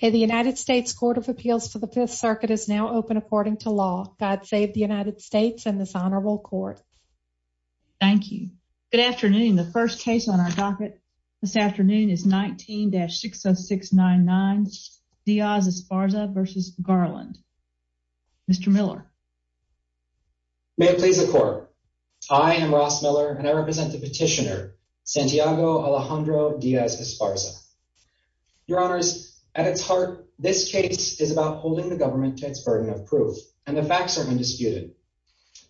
The United States Court of Appeals for the Fifth Circuit is now open according to law. God save the United States and this honorable court. Thank you. Good afternoon. The first case on our docket this afternoon is 19-60699 Diaz Esparza v. Garland. Mr. Miller. May it please the court. I am Ross Miller and I represent the petitioner Santiago Alejandro Diaz Esparza. Your honors, at its heart, this case is about holding the government to its burden of proof and the facts are undisputed.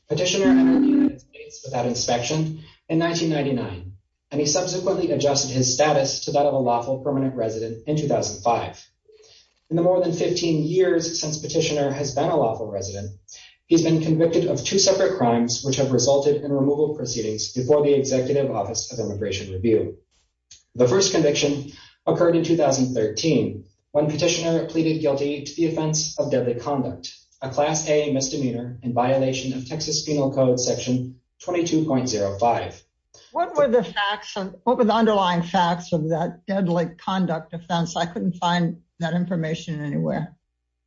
Petitioner entered the United States without inspection in 1999 and he subsequently adjusted his status to that of a lawful permanent resident in 2005. In the more than 15 years since petitioner has been a lawful resident, he's been convicted of two separate crimes which have resulted in removal proceedings before the Executive Office of Immigration Review. The first conviction occurred in 2013 when petitioner pleaded guilty to the offense of deadly conduct, a Class A misdemeanor in violation of Texas Penal Code Section 22.05. What were the facts? What were the underlying facts of that deadly conduct offense? I couldn't find that information anywhere.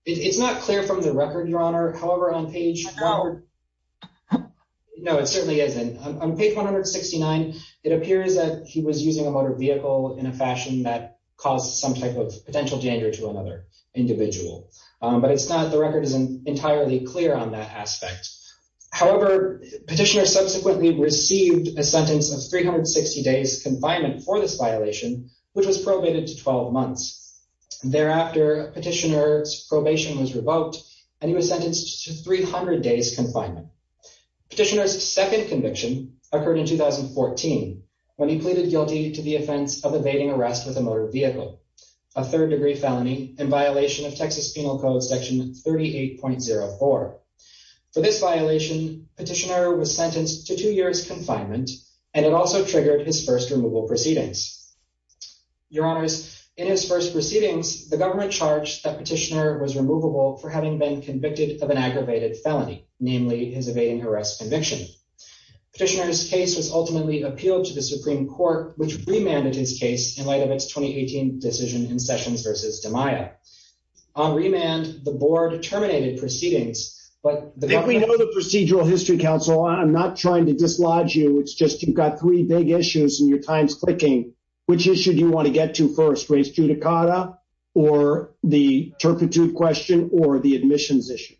It's not clear from the record, your honor. However, on page... No, it certainly isn't. On page 169, it appears that he was using a motor vehicle in a fashion that caused some type of potential danger to another individual. But it's not... The record isn't entirely clear on that aspect. However, petitioner subsequently received a sentence of 360 days confinement for this violation, which was probated to 12 months. Thereafter, petitioner's probation was revoked and he was sentenced to 300 days confinement. Petitioner's second conviction occurred in 2014 when he pleaded guilty to the offense of evading arrest with a motor vehicle, a third-degree felony in violation of Texas Penal Code Section 38.04. For this violation, petitioner was sentenced to two years confinement and it also triggered his first removal proceedings. Your honors, in his first proceedings, the government charged that petitioner was removable for having been convicted of an aggravated felony, namely his evading arrest conviction. Petitioner's case was ultimately appealed to the Supreme Court, which remanded his case in light of its 2018 decision in Sessions v. DiMaia. On remand, the board terminated proceedings, but the government... If we know the procedural history, counsel, I'm not trying to dislodge you. It's just you've got three big issues in your times clicking. Which issue do you want to get to first? Race judicata or the turpitude question or the admissions issue?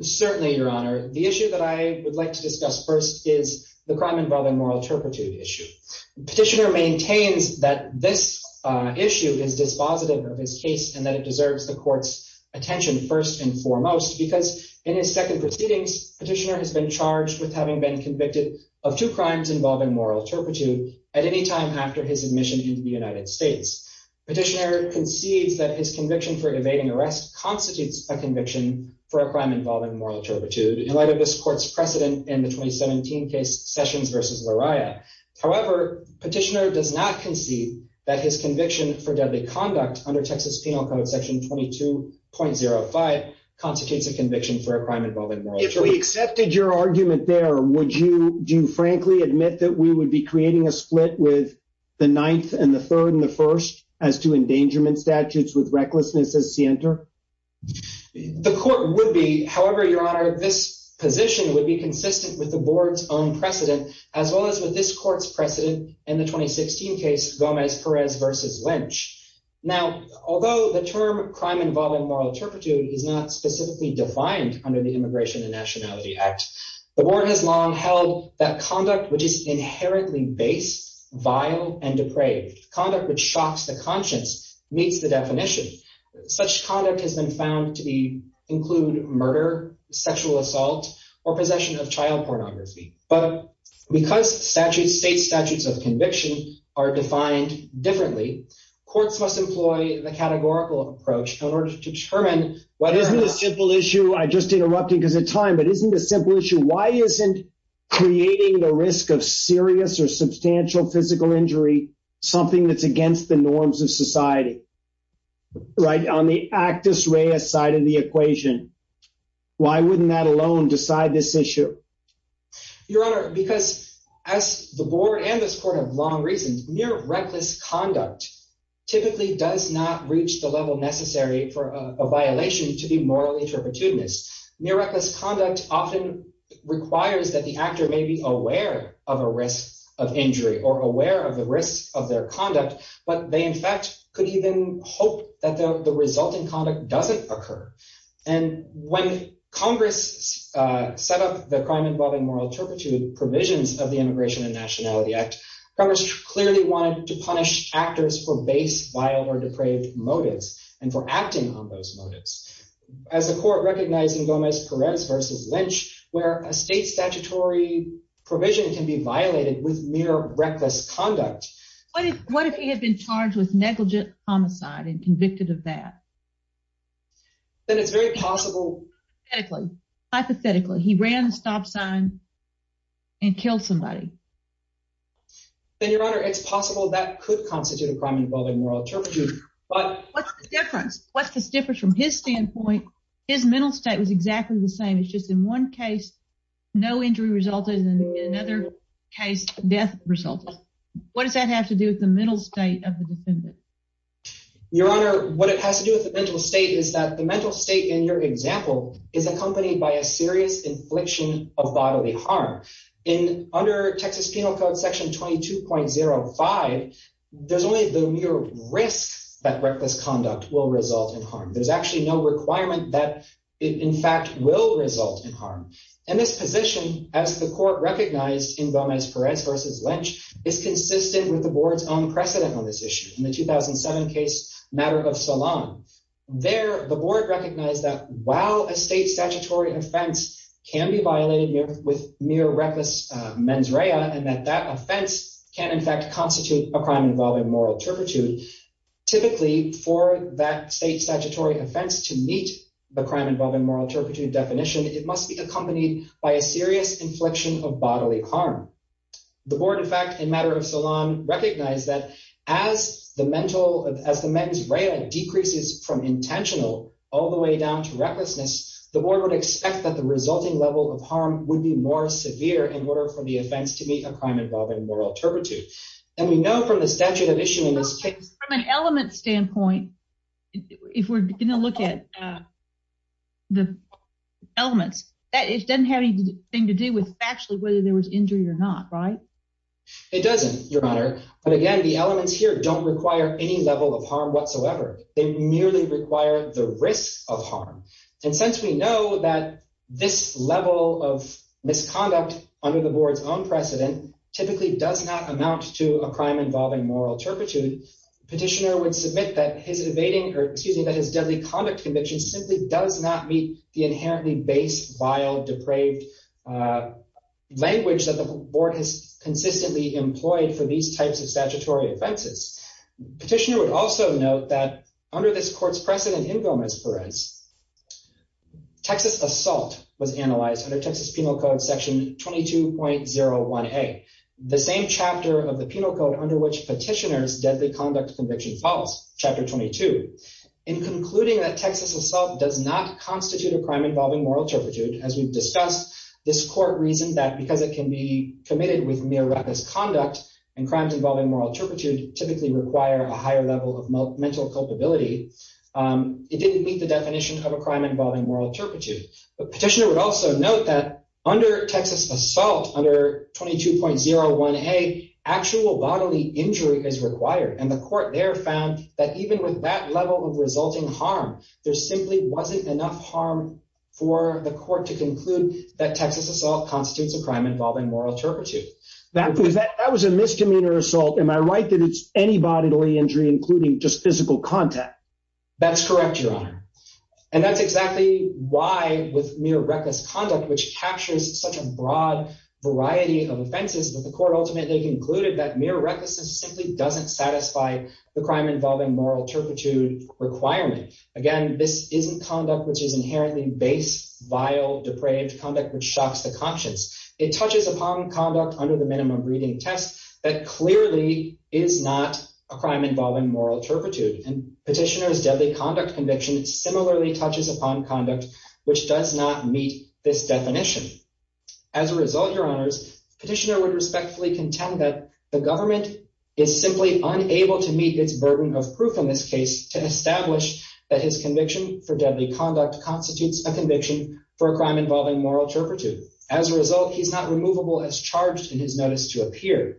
Certainly, your honor. The issue that I would like to discuss first is the crime involving moral turpitude issue. Petitioner maintains that this issue is dispositive of his case and that it deserves the court's attention first and foremost because in his second proceedings, petitioner has been charged with having been convicted of two crimes involving moral turpitude at any time after his admission into the United States. Petitioner concedes that his conviction for evading arrest constitutes a conviction for a crime involving moral turpitude in light of this court's precedent in the 2017 case Sessions v. Lariah. However, petitioner does not concede that his conviction for deadly conduct under Texas Penal Code Section 22.05 constitutes a conviction for a crime involving moral turpitude. If we accepted your argument there, would you frankly admit that we would be creating a split with the Ninth and the Third and the First as to endangerment statutes with recklessness as scienter? The court would be. However, your honor, this position would be consistent with the board's own precedent as well as with this court's precedent in the 2016 case Gomez-Perez v. Lynch. Now, although the term crime involving moral turpitude is not specifically defined under the Immigration and Nationality Act, the board has long held that conduct which is inherently based, vile, and depraved, conduct which shocks the conscience, meets the definition. Such conduct has been found to include murder, sexual assault, or possession of child pornography. But because state statutes of conviction are defined differently, courts must employ the categorical approach in order to determine whether or not— Isn't the simple issue—I just interrupted because of time—but isn't the simple issue why isn't creating the risk of serious or substantial physical injury something that's against the norms of society, right? On the actus reus side of the equation, why wouldn't that alone decide this issue? Your honor, because as the board and this court have long reasoned, mere reckless conduct typically does not reach the level necessary for a violation to be morally turpitudinous. Mere reckless conduct often requires that the actor may be aware of a risk of injury or aware of the risk of their conduct, but they in fact could even hope that the resulting conduct doesn't occur. And when Congress set up the crime involving moral turpitude provisions of the Immigration and Nationality Act, Congress clearly wanted to punish actors for base, vile, or depraved motives and for acting on those motives. As the court recognized in Gomez-Perez v. Lynch, where a state statutory provision can be violated with mere reckless conduct— What if he had been charged with negligent homicide and convicted of that? Then it's very possible— Hypothetically, he ran the stop sign and killed somebody. Then your honor, it's possible that could constitute a crime involving moral turpitude, but— What's the difference from his standpoint? His mental state was exactly the same. It's just in one case no injury resulted and in another case death resulted. What does that have to do with the mental state of the defendant? Your honor, what it has to do with the mental state is that the mental state in your example is accompanied by a serious infliction of bodily harm. Under Texas Penal Code Section 22.05, there's only the mere risk that reckless conduct will result in harm. There's actually no requirement that it in fact will result in harm. This position, as the court recognized in Gomez-Perez v. Lynch, is consistent with the board's own precedent on this issue. In the 2007 case, Matter of Salon, there the board recognized that while a state that offense can in fact constitute a crime involving moral turpitude, typically for that state statutory offense to meet the crime involving moral turpitude definition, it must be accompanied by a serious infliction of bodily harm. The board, in fact, in Matter of Salon recognized that as the mental—as the men's REIA decreases from intentional all the way down to recklessness, the board would expect that the resulting level of harm would be more severe in order for the state to meet a crime involving moral turpitude. And we know from the statute of issue in this case— From an element standpoint, if we're going to look at the elements, it doesn't have anything to do with actually whether there was injury or not, right? It doesn't, Your Honor. But again, the elements here don't require any level of harm whatsoever. They merely require the risk of harm. And since we know that this level of misconduct under the typically does not amount to a crime involving moral turpitude, petitioner would submit that his evading—or excuse me—that his deadly conduct conviction simply does not meet the inherently base, vile, depraved language that the board has consistently employed for these types of statutory offenses. Petitioner would also note that under this court's precedent in Gomez-Perez, Texas assault was analyzed under Texas Penal Code section 22.01a, the same chapter of the penal code under which petitioner's deadly conduct conviction falls, chapter 22. In concluding that Texas assault does not constitute a crime involving moral turpitude, as we've discussed, this court reasoned that because it can be committed with mere reckless conduct and crimes involving moral turpitude typically require a higher level of mental culpability, it didn't definition of a crime involving moral turpitude. But petitioner would also note that under Texas assault under 22.01a, actual bodily injury is required. And the court there found that even with that level of resulting harm, there simply wasn't enough harm for the court to conclude that Texas assault constitutes a crime involving moral turpitude. That was a misdemeanor assault. Am I right that it's any bodily injury, including just physical contact? That's correct, Your Honor. And that's exactly why with mere reckless conduct, which captures such a broad variety of offenses that the court ultimately concluded that mere recklessness simply doesn't satisfy the crime involving moral turpitude requirement. Again, this isn't conduct, which is inherently base, vile, depraved conduct, which shocks the conscience. It touches upon conduct under the minimum reading test that clearly is not a crime involving moral turpitude. And petitioner's deadly conduct conviction similarly touches upon conduct, which does not meet this definition. As a result, Your Honors, petitioner would respectfully contend that the government is simply unable to meet its burden of proof in this case to establish that his conviction for deadly conduct constitutes a conviction for a crime involving moral turpitude. As a result, he's not removable as charged in his notice to appear.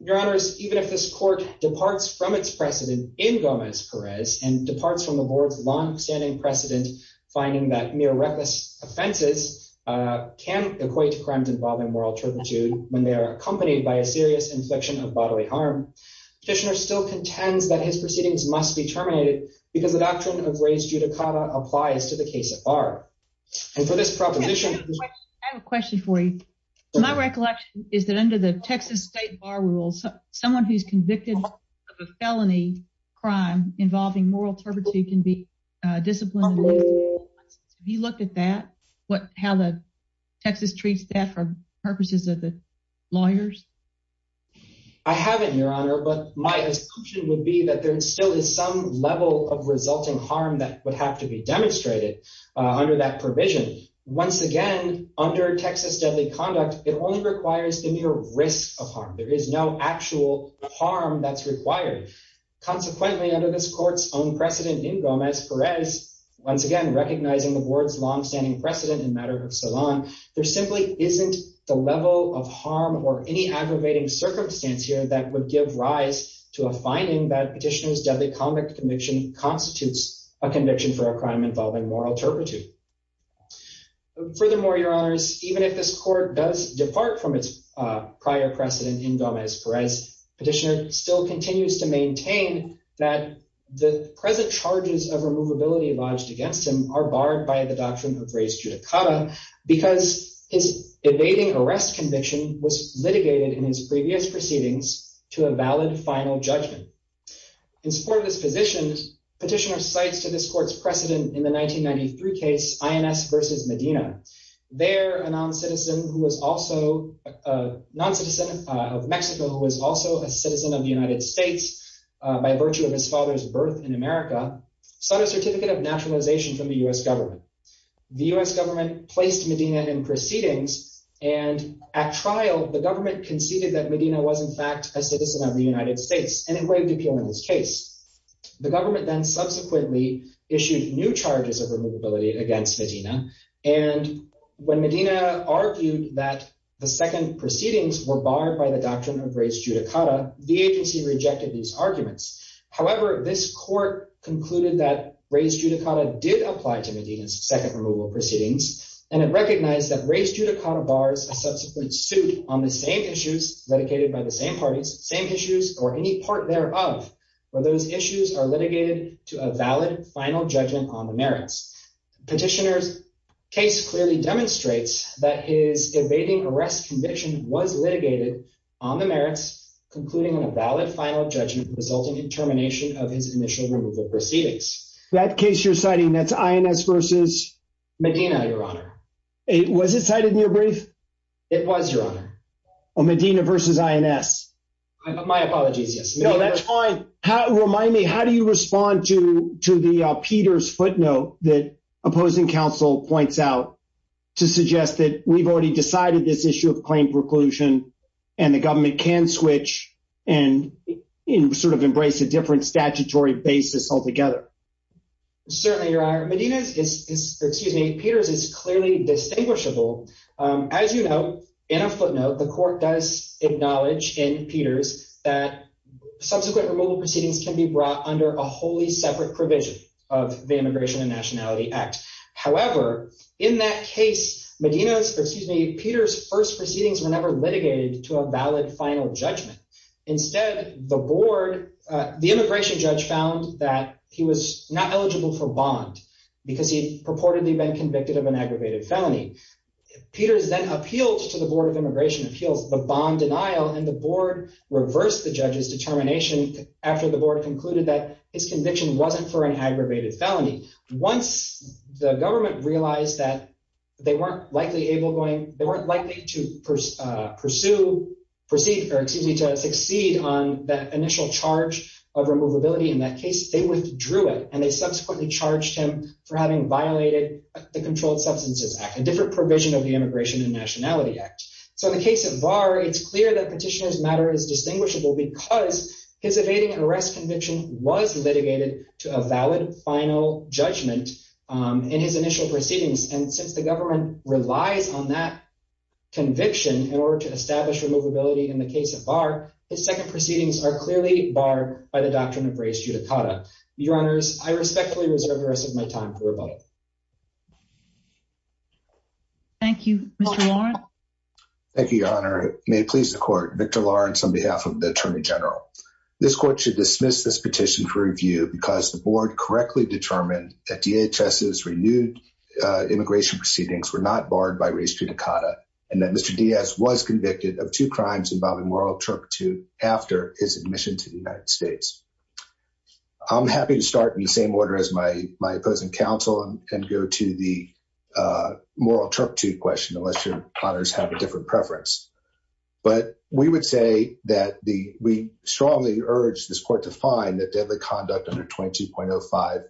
Your Honors, even if this court departs from its precedent in Gomez-Perez and departs from the board's long-standing precedent, finding that mere reckless offenses can equate to crimes involving moral turpitude when they are accompanied by a serious infliction of bodily harm, petitioner still contends that his proceedings must be terminated because the doctrine of res judicata applies to the case at bar. And for this proposition- I have a question for you. My recollection is that under the Texas state bar rules, someone who's convicted of a felony crime involving moral turpitude can be disciplined. Have you looked at that? How Texas treats that for purposes of the lawyers? I haven't, Your Honor, but my assumption would be that there still is some level of resulting harm that would have to be demonstrated under that provision. Once again, under Texas deadly conduct, it only requires the mere risk of harm. There is no actual harm that's required. Consequently, under this court's own precedent in Gomez-Perez, once again recognizing the board's long-standing precedent in matter of salon, there simply isn't the level of harm or any aggravating circumstance here that would give rise to a finding that petitioner's deadly conduct conviction constitutes a conviction for a crime involving moral turpitude. Furthermore, Your Honors, even if this court does depart from its prior precedent in Gomez-Perez, petitioner still continues to maintain that the present charges of removability lodged against him are barred by the doctrine of res judicata because his evading arrest conviction was litigated in his previous proceedings to a valid final judgment. In support of this position, petitioner cites to this court's precedent in 1993 case INS versus Medina. There, a non-citizen of Mexico who was also a citizen of the United States by virtue of his father's birth in America, sought a certificate of naturalization from the U.S. government. The U.S. government placed Medina in proceedings, and at trial, the government conceded that Medina was in fact a citizen of the United States and engraved appeal in his case. The government then subsequently issued new charges of removability against Medina, and when Medina argued that the second proceedings were barred by the doctrine of res judicata, the agency rejected these arguments. However, this court concluded that res judicata did apply to Medina's second removal proceedings, and it recognized that res judicata bars a subsequent suit on the same issues litigated by the same parties, same issues, or any part thereof, where those issues are litigated to a valid final judgment on the merits. Petitioner's case clearly demonstrates that his evading arrest conviction was litigated on the merits, concluding on a valid final judgment resulting in termination of his initial removal proceedings. That case you're citing, that's INS versus? Medina, your honor. Was it cited in your brief? It was, your My apologies, yes. No, that's fine. Remind me, how do you respond to the Peters footnote that opposing counsel points out to suggest that we've already decided this issue of claim preclusion and the government can switch and sort of embrace a different statutory basis altogether? Certainly, your honor. Medina's is, excuse me, Peters is clearly distinguishable. As you know, in a footnote, the court does acknowledge in Peters that subsequent removal proceedings can be brought under a wholly separate provision of the Immigration and Nationality Act. However, in that case, Medina's, excuse me, Peters' first proceedings were never litigated to a valid final judgment. Instead, the board, the immigration judge found that he was not eligible for bond because he purportedly been convicted of an aggravated felony. Peters then appealed to the board of immigration appeals, the bond denial, and the board reversed the judge's determination after the board concluded that his conviction wasn't for an aggravated felony. Once the government realized that they weren't likely able going, they weren't likely to pursue, proceed, or excuse me, to succeed on that initial charge of removability in that case, they withdrew it and they subsequently charged him for having violated the Controlled Substances Act, a different provision of the Immigration and Nationality Act. So in the case of Barr, it's clear that petitioner's matter is distinguishable because his evading arrest conviction was litigated to a valid final judgment in his initial proceedings. And since the government relies on that conviction in order to establish removability in the case of Barr, his second race judicata. Your honors, I respectfully reserve the rest of my time for rebuttal. Thank you, Mr. Lawrence. Thank you, your honor. May it please the court, Victor Lawrence on behalf of the attorney general. This court should dismiss this petition for review because the board correctly determined that DHS's renewed immigration proceedings were not barred by race judicata and that Mr. Diaz was convicted of two I'm happy to start in the same order as my opposing counsel and go to the moral turpitude question unless your honors have a different preference. But we would say that we strongly urge this court to find that deadly conduct under 22.05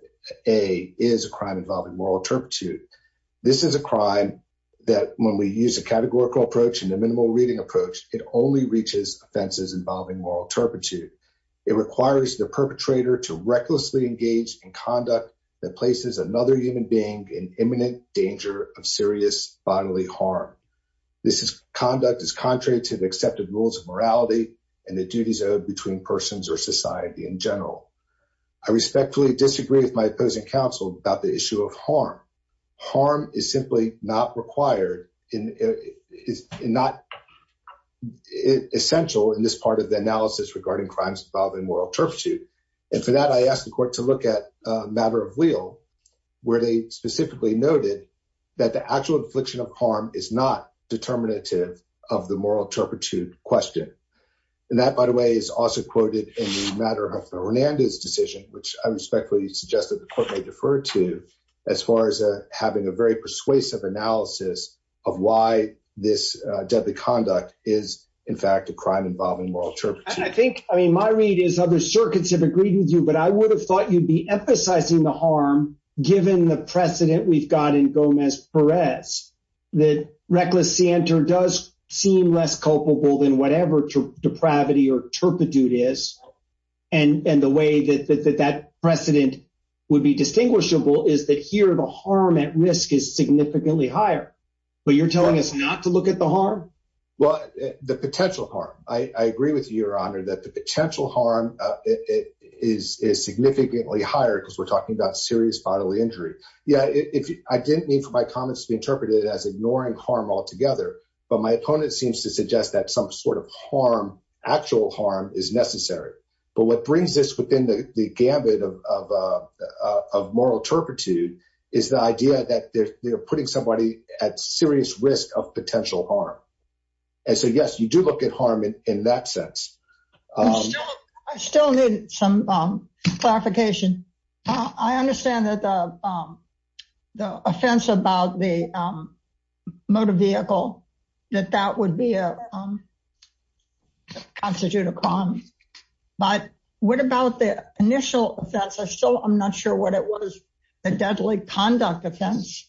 A is a crime involving moral turpitude. This is a crime that when we use a categorical approach and a minimal reading approach, it only reaches offenses involving moral turpitude. It requires the perpetrator to recklessly engage in conduct that places another human being in imminent danger of serious bodily harm. This conduct is contrary to the accepted rules of morality and the duties owed between persons or society in general. I respectfully disagree with my opposing counsel about the issue of harm. Harm is simply not required and is not essential in this part of the analysis regarding crimes involving moral turpitude. And for that, I asked the court to look at a matter of wheel where they specifically noted that the actual infliction of harm is not determinative of the moral turpitude question. And that, by the way, is also quoted in the matter of the Hernandez decision, which I respectfully suggest that the court may defer to as far as having a very persuasive analysis of why this deadly conduct is, in fact, a crime involving moral turpitude. And I think, I mean, my read is other circuits have agreed with you, but I would have thought you'd be emphasizing the harm, given the precedent we've got in Gomez-Perez, that reckless scienter does seem less culpable than whatever depravity or turpitude is. And the way that that precedent would be distinguishable is that here the harm at risk is significantly higher, but you're telling us not to look at the harm? Well, the potential harm. I agree with you, Your Honor, that the potential harm is significantly higher because we're talking about serious bodily injury. Yeah, I didn't mean for my comments to be interpreted as ignoring harm altogether, but my opponent seems to suggest that some sort of harm, actual harm, is necessary. But what brings this within the gambit of moral turpitude is the idea that they're putting somebody at serious risk of potential harm. And so, yes, you do look at harm in that sense. I still need some clarification. I understand that the offense about the vehicle, that that would constitute a crime. But what about the initial offense? I'm not sure what it was, the deadly conduct offense.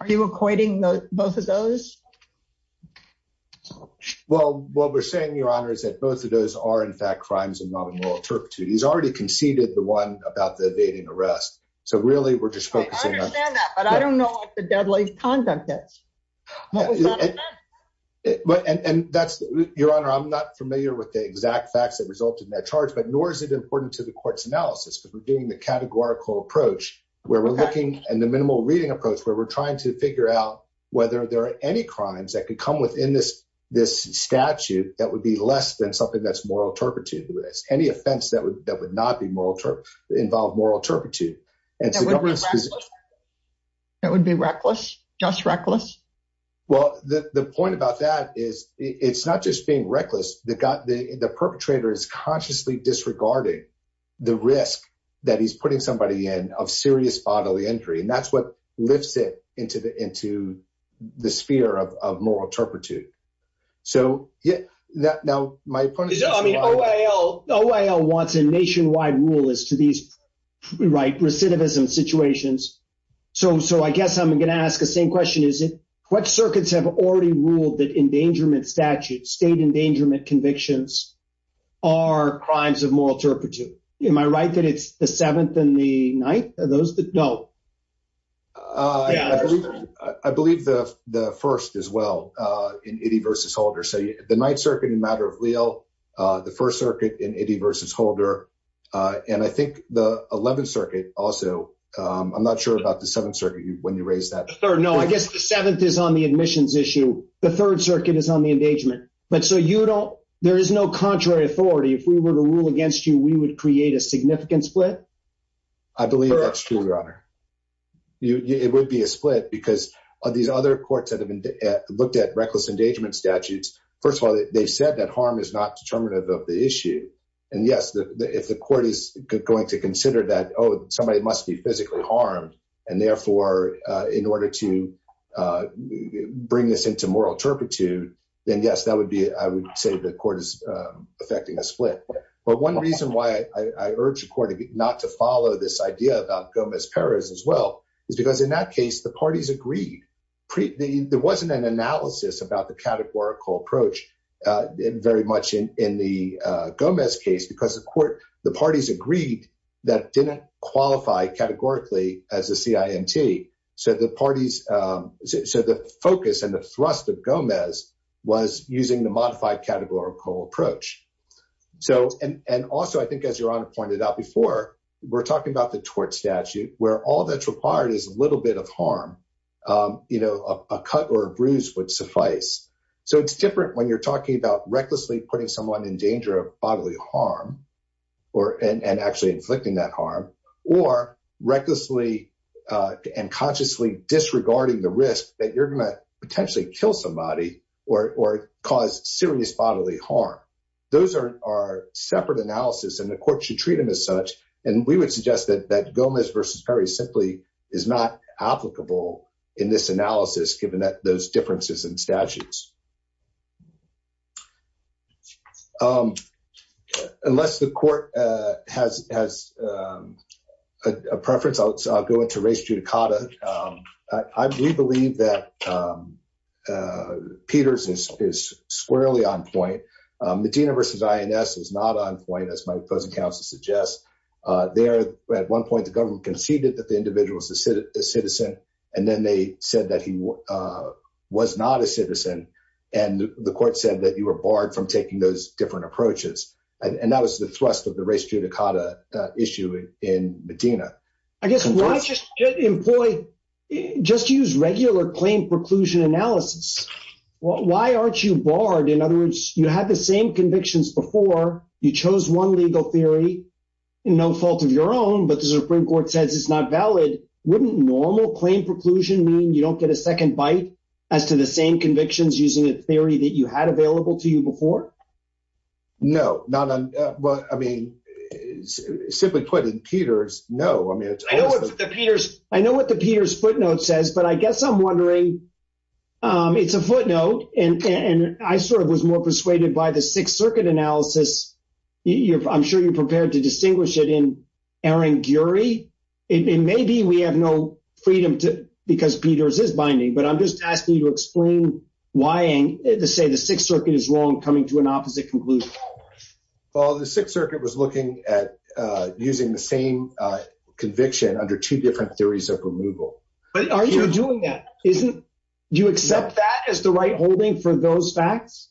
Are you equating both of those? Well, what we're saying, Your Honor, is that both of those are, in fact, crimes of non-moral turpitude. He's already conceded the one about the evading arrest. So really, we're just focusing on... I understand that, but I don't know what the deadly conduct is. And Your Honor, I'm not familiar with the exact facts that resulted in that charge, but nor is it important to the court's analysis because we're doing the categorical approach where we're looking at the minimal reading approach where we're trying to figure out whether there are any crimes that could come within this statute that would be less than something that's moral turpitude. Any offense that would not involve moral turpitude. That would be reckless? Just reckless? Well, the point about that is it's not just being reckless. The perpetrator is consciously disregarding the risk that he's putting somebody in of serious bodily injury, and that's what lifts it into the sphere of moral turpitude. So yeah, now my point is... The OIL wants a nationwide rule as to these recidivism situations. So I guess I'm going to ask the same question. What circuits have already ruled that endangerment statutes, state endangerment convictions, are crimes of moral turpitude? Am I right that it's the Seventh and the Ninth? Are those the... No. I believe the First as well in Itty v. Holder. So the Ninth Circuit in the matter of Leal, the First Circuit in Itty v. Holder, and I think the Eleventh Circuit also. I'm not sure about the Seventh Circuit when you raised that. No, I guess the Seventh is on the admissions issue. The Third Circuit is on the engagement. But so you don't... There is no contrary authority. If we were to rule against you, we would create a significant split? I believe that's true, Your Honor. It would be a split because of these other courts that have looked at reckless endangerment statutes. First of all, they said that harm is not determinative of the issue. And yes, if the court is going to consider that, oh, somebody must be physically harmed, and therefore, in order to bring this into moral turpitude, then yes, that would be... I would say the court is effecting a split. But one reason why I urge the court not to follow this idea about Gomez Perez as well is because in that case, the parties agreed. There wasn't an analysis about the categorical approach very much in the Gomez case because the parties agreed that didn't qualify categorically as a CIMT. So the focus and the thrust of Gomez was using the modified categorical approach. And also, I think, as Your Honor pointed out before, we're talking about the tort statute where all that's required is a little bit of harm. A cut or a bruise would suffice. So it's different when you're talking about recklessly putting someone in danger of bodily harm and actually inflicting that harm, or recklessly and consciously disregarding the risk that you're going to potentially kill somebody or cause serious bodily harm. Those are separate analysis and the court should treat them as such. And we would suggest that Gomez versus Perez simply is not applicable in this analysis, given those differences in statutes. Unless the court has a preference, I'll go into race judicata. We believe that Peters is squarely on point. Medina versus INS is not on point, as my opposing counsel suggests. There, at one point, the government conceded that the individual is a citizen. And then they said that he was not a citizen. And the court said that you were barred from taking those different approaches. And that was the thrust of the race judicata issue in Medina. I guess why just employ, just use regular claim preclusion analysis. Why aren't you barred? In other words, you had the same convictions before, you chose one legal theory, no fault of your own, but the Supreme Court says it's not valid. Wouldn't normal claim preclusion mean you don't get a second bite as to the same convictions using a theory that you had available to you before? No. Simply put, in Peters, no. I know what the Peters footnote says, but I guess I'm wondering, it's a footnote, and I sort of was more persuaded by the Sixth Circuit analysis. I'm sure you're prepared to distinguish it in Aaron Gury. It may be we have no freedom to, because Peters is binding, but I'm just asking you to explain why the Sixth Circuit is wrong coming to an opposite conclusion. Well, the Sixth Circuit was looking at using the same conviction under two different theories of removal. But are you doing that? Do you accept that as the right holding for those facts?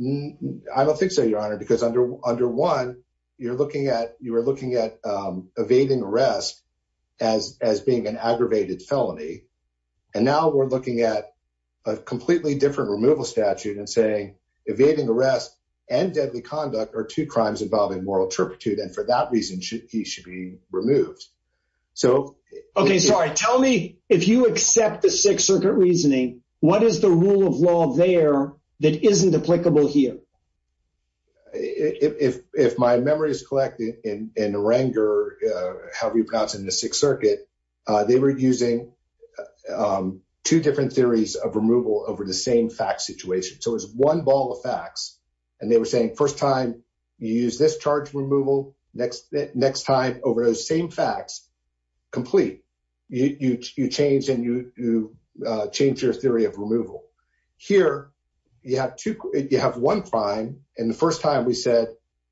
I don't think so, Your Honor, because under one, you're looking at evading arrest as being an aggravated felony, and now we're looking at a completely different removal statute and saying evading arrest and deadly conduct are two crimes involving moral turpitude, and for that reason, he should be removed. Okay, sorry. Tell me, if you accept the Sixth Circuit reasoning, what is the rule of law there that isn't applicable here? If my memory is correct, in Renger, however you pronounce it in the Sixth Circuit, they were using two different theories of removal over the same fact situation. So it was one ball of facts, and they were saying, first time you use this charge removal, next time over those same facts, complete. You change your theory of removal. Here, you have one crime, and the first time we said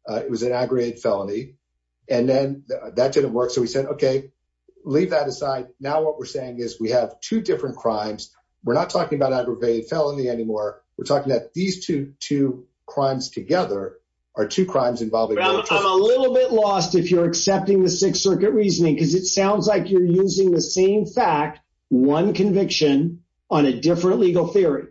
it was an aggravated felony, and then that didn't work, so we said, okay, leave that aside. Now what we're saying is we have two different crimes. We're not talking about aggravated two crimes together are two crimes involving. I'm a little bit lost if you're accepting the Sixth Circuit reasoning, because it sounds like you're using the same fact, one conviction, on a different legal theory.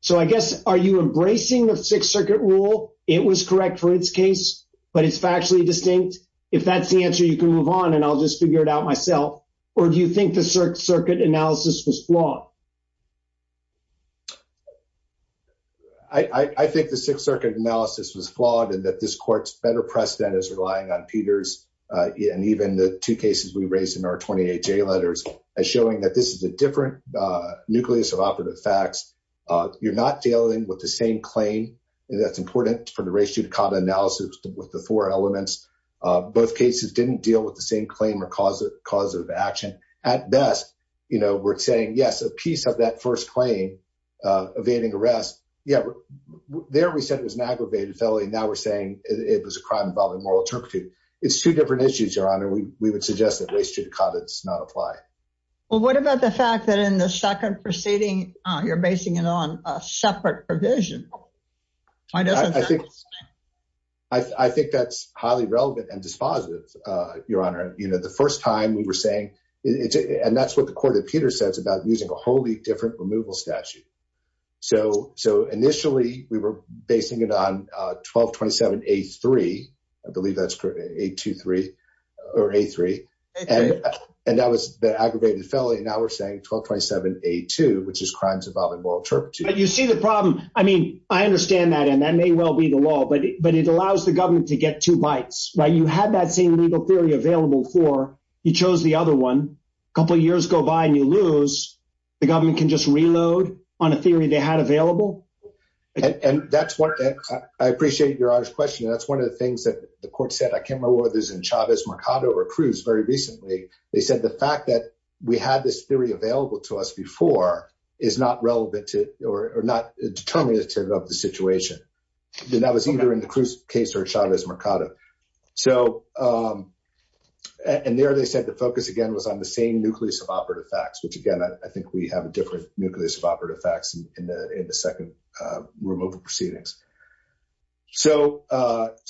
So I guess, are you embracing the Sixth Circuit rule? It was correct for its case, but it's factually distinct. If that's the answer, you can move on, and I'll just figure it out myself. Or do you think the Circuit analysis was flawed? I think the Sixth Circuit analysis was flawed, and that this court's better precedent is relying on Peters, and even the two cases we raised in our 28 J letters, as showing that this is a different nucleus of operative facts. You're not dealing with the same claim, and that's important for the ratio to common analysis with the four elements. Both cases didn't deal with the same claim or cause of action. At best, you know, we're saying, yes, a Peter case is a case, of that first claim, evading arrest. Yeah, there we said it was an aggravated felony. Now we're saying it was a crime involving moral turpitude. It's two different issues, Your Honor. We would suggest that ratio to common does not apply. Well, what about the fact that in the second proceeding, you're basing it on a separate provision? I think that's highly relevant and dispositive, Your Honor. You know, the first time we were saying, and that's what the court that Peter says, about using a wholly different removal statute. So initially, we were basing it on 1227A3, I believe that's correct, A23, or A3, and that was the aggravated felony. Now we're saying 1227A2, which is crimes involving moral turpitude. You see the problem. I mean, I understand that, and that may well be the law, but it allows the government to get two bites, right? You had that same legal theory available for, you chose the other one, a couple years go by and you lose, the government can just reload on a theory they had available? And that's what, I appreciate Your Honor's question, and that's one of the things that the court said, I can't remember whether it was in Chavez-Mercado or Cruz very recently. They said the fact that we had this theory available to us before is not relevant to, or not determinative of the situation. That was either in the Cruz case or Chavez-Mercado. So, and there they said the focus, again, was on the same nucleus of operative facts, which again, I think we have a different nucleus of operative facts in the second removal proceedings. So,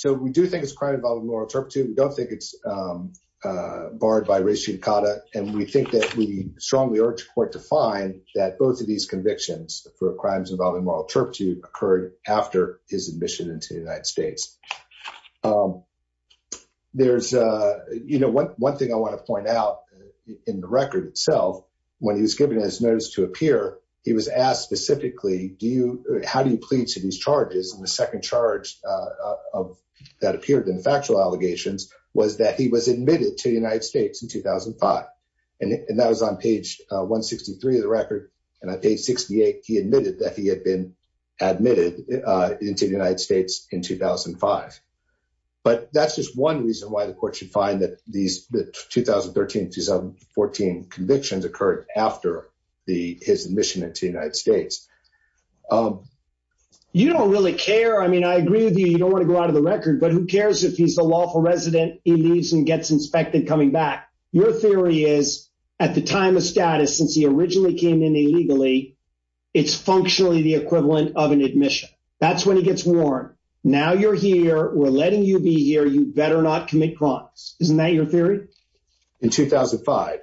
we do think it's a crime involving moral turpitude. We don't think it's barred by ratio and cata, and we think that we strongly urge court to find that both of these convictions for crimes involving moral turpitude occurred after his admission into the United States. There's, you know, one thing I want to point out in the record itself, when he was given his notice to appear, he was asked specifically, how do you plead to these charges? And the second charge that appeared in the factual allegations was that he was admitted to the United States in 2005. And that was on page 163 of the record. And on page 68, he admitted that he had been convicted in 2005. But that's just one reason why the court should find that these 2013-2014 convictions occurred after his admission into the United States. You don't really care. I mean, I agree with you. You don't want to go out of the record, but who cares if he's a lawful resident, he leaves and gets inspected coming back. Your theory is, at the time of status, since he originally came in illegally, it's functionally the equivalent of an admission. That's when he gets warned, now you're here, we're letting you be here, you better not commit crimes. Isn't that your theory? In 2005.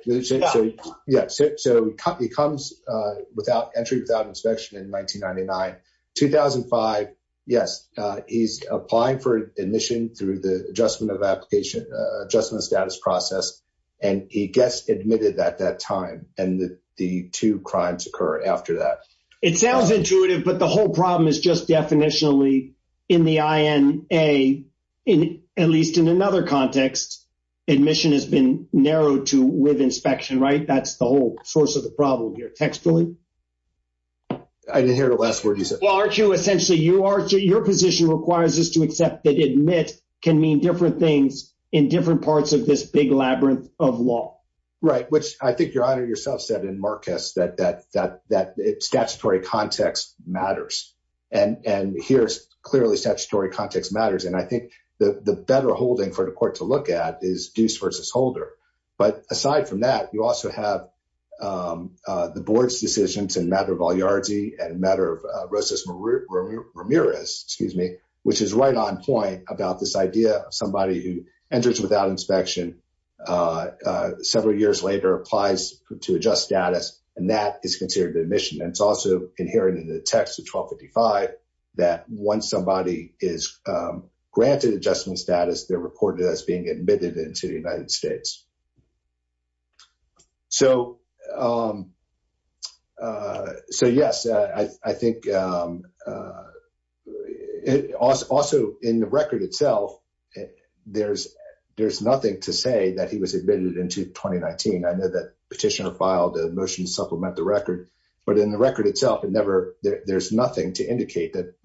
Yeah. So he comes without entry, without inspection in 1999. 2005, yes, he's applying for admission through the adjustment of application, adjustment of status process. And he gets admitted at that time, and the two crimes occur after that. It sounds intuitive, but the whole problem is just definitionally, in the INA, at least in another context, admission has been narrowed to with inspection, right? That's the whole source of the problem here, textually. I didn't hear the last word you said. Well, Archie, essentially, your position requires us to accept that admit can mean different things in different parts of this big labyrinth of law. Right, which I think your Honor, yourself said in Marcus, that statutory context matters. And here, clearly, statutory context matters. And I think the better holding for the court to look at is Deuce versus Holder. But aside from that, you also have the board's decisions in matter of enters without inspection. Several years later, applies to adjust status, and that is considered admission. And it's also inherent in the text of 1255 that once somebody is granted adjustment status, they're reported as being admitted into the United States. So, yes, I think, also, in the record itself, there's nothing to say that he was admitted into 2019. I know that petitioner filed a motion to supplement the record. But in the record itself, it never, there's nothing to indicate that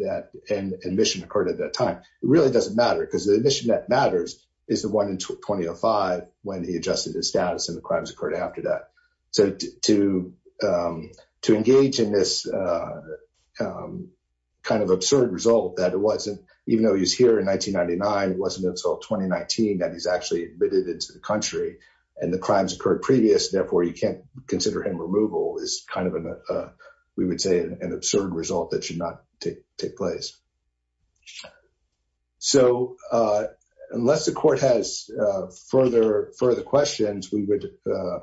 an admission occurred at that time. It really doesn't matter, because the admission that matters is the one in 2005, when he was granted adjustment status and the crimes occurred after that. So, to engage in this kind of absurd result that it wasn't, even though he's here in 1999, it wasn't until 2019 that he's actually admitted into the country, and the crimes occurred previous, therefore, you can't consider him removal, is kind of, we would say, an absurd result that should not take place. So, unless the court has further questions, we would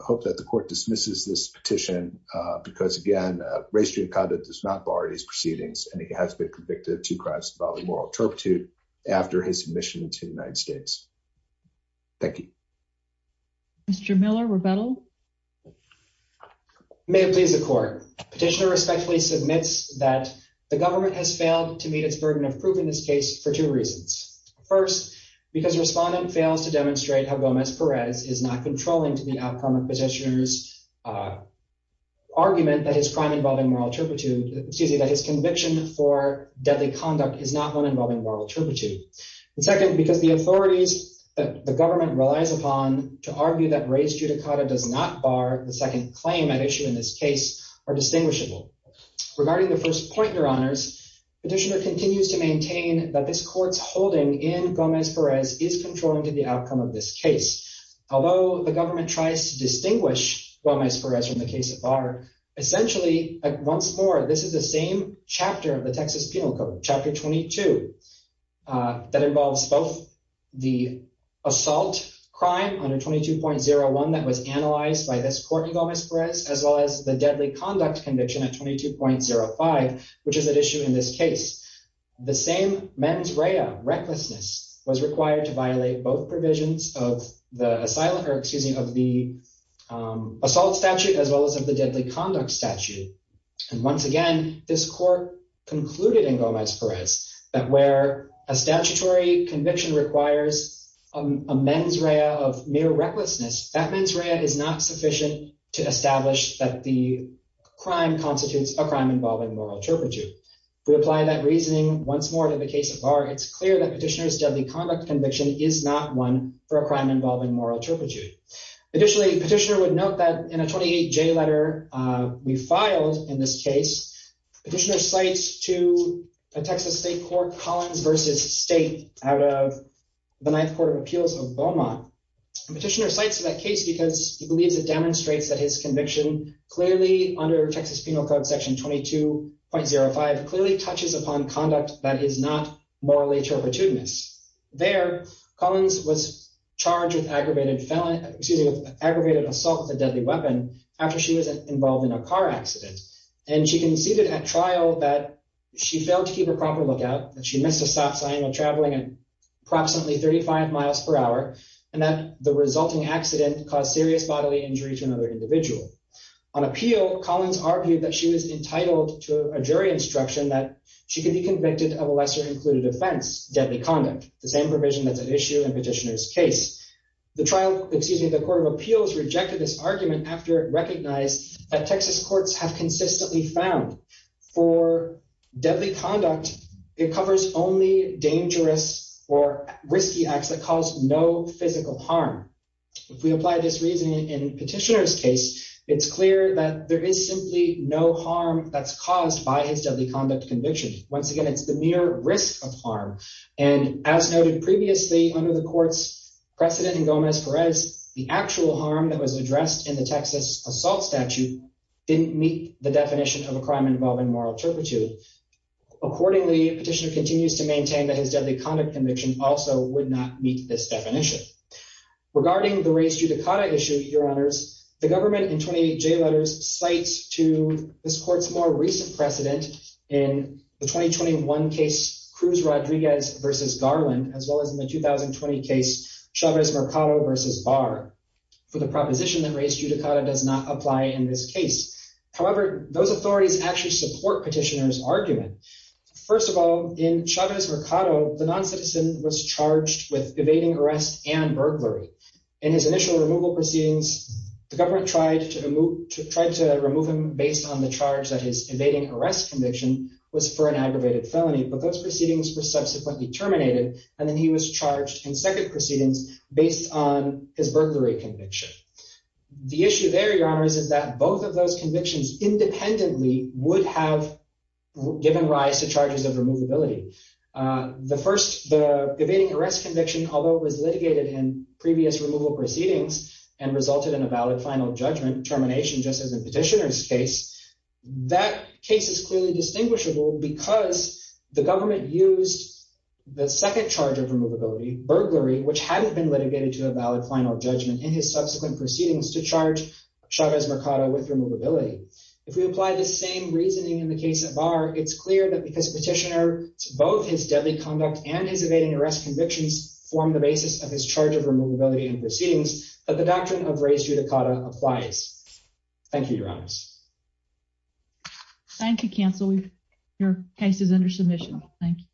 hope that the court dismisses this petition, because, again, race-driven conduct does not bar these proceedings, and he has been convicted of two crimes involving moral turpitude after his admission into the United States. Thank you. Mr. Miller, rebuttal. May it please the court. Petitioner respectfully submits that the government has failed to meet its burden of proof in this case for two reasons. First, because respondent fails to demonstrate how Gomez Perez is not controlling to the outcome of petitioner's argument that his crime involving moral turpitude, excuse me, that his conviction for deadly conduct is not one involving moral turpitude. And second, because the authorities that the government relies upon to argue that race judicata does not bar the second claim at issue in this case are distinguishable. Regarding the first point, your honors, petitioner continues to maintain that this court's holding in Gomez Perez is controlling to the outcome of this case. Although the government tries to distinguish Gomez Perez from the case at bar, essentially, once more, this is the same chapter of the Texas Penal Code, chapter 22, that involves both the assault crime under 22.01 that was analyzed by this court in which is at issue in this case. The same mens rea, recklessness, was required to violate both provisions of the asylum, or excuse me, of the assault statute as well as of the deadly conduct statute. And once again, this court concluded in Gomez Perez that where a statutory conviction requires a mens rea of mere recklessness, that mens rea is not sufficient to establish that the We apply that reasoning once more to the case at bar. It's clear that petitioner's deadly conduct conviction is not one for a crime involving moral turpitude. Additionally, petitioner would note that in a 28J letter we filed in this case, petitioner cites to Texas State Court Collins v. State out of the Ninth Court of Appeals of Beaumont. Petitioner cites that case because he believes it demonstrates that his conviction clearly under Texas Penal Code section 22.05 clearly touches upon conduct that is not morally turpitudinous. There, Collins was charged with aggravated assault with a deadly weapon after she was involved in a car accident. And she conceded at trial that she failed to keep a proper lookout, that she missed a stop sign when traveling at approximately 35 miles per hour, and that the resulting accident caused serious bodily injury to another individual. On appeal, Collins argued that she was entitled to a jury instruction that she could be convicted of a lesser included offense, deadly conduct, the same provision that's at issue in petitioner's case. The trial, excuse me, the Court of Appeals rejected this argument after it recognized that Texas courts have consistently found for deadly conduct, it covers only dangerous or risky acts that cause no physical harm. If we apply this reasoning in petitioner's case, it's clear that there is simply no harm that's caused by his deadly conduct conviction. Once again, it's the mere risk of harm. And as noted previously under the court's precedent in Gomez Perez, the actual harm that was addressed in the Texas assault statute didn't meet the definition of a crime involving moral turpitude. Accordingly, petitioner continues to maintain that his deadly conduct conviction also would not meet this definition. Regarding the race judicata issue, your honors, the government in 28J letters cites to this court's more recent precedent in the 2021 case Cruz Rodriguez versus Garland as well as in the 2020 case Chavez Mercado versus Barr for the proposition that race judicata does not apply in this case. However, those authorities actually support petitioner's argument. First of all, in Chavez Mercado, the non-citizen was charged with evading arrest and burglary. In his initial removal proceedings, the government tried to remove him based on the charge that his evading arrest conviction was for an aggravated felony, but those proceedings were subsequently terminated and then he was charged in second proceedings based on his burglary conviction. The issue there, your honors, is that both of those convictions independently would have given rise to charges of removability. The first, the evading arrest conviction, although it was litigated in previous removal proceedings and resulted in a valid final judgment termination just as in petitioner's case, that case is clearly distinguishable because the government used the second charge of removability, burglary, which hadn't been litigated to a valid final judgment in his subsequent proceedings to charge Chavez Mercado with removability. If we apply the same reasoning in the case at bar, it's clear that because petitioner, both his deadly conduct and his evading arrest convictions form the basis of his charge of removability in proceedings, that the doctrine of res judicata applies. Thank you, your honors. Thank you, counsel. Your case is under submission. Thank you.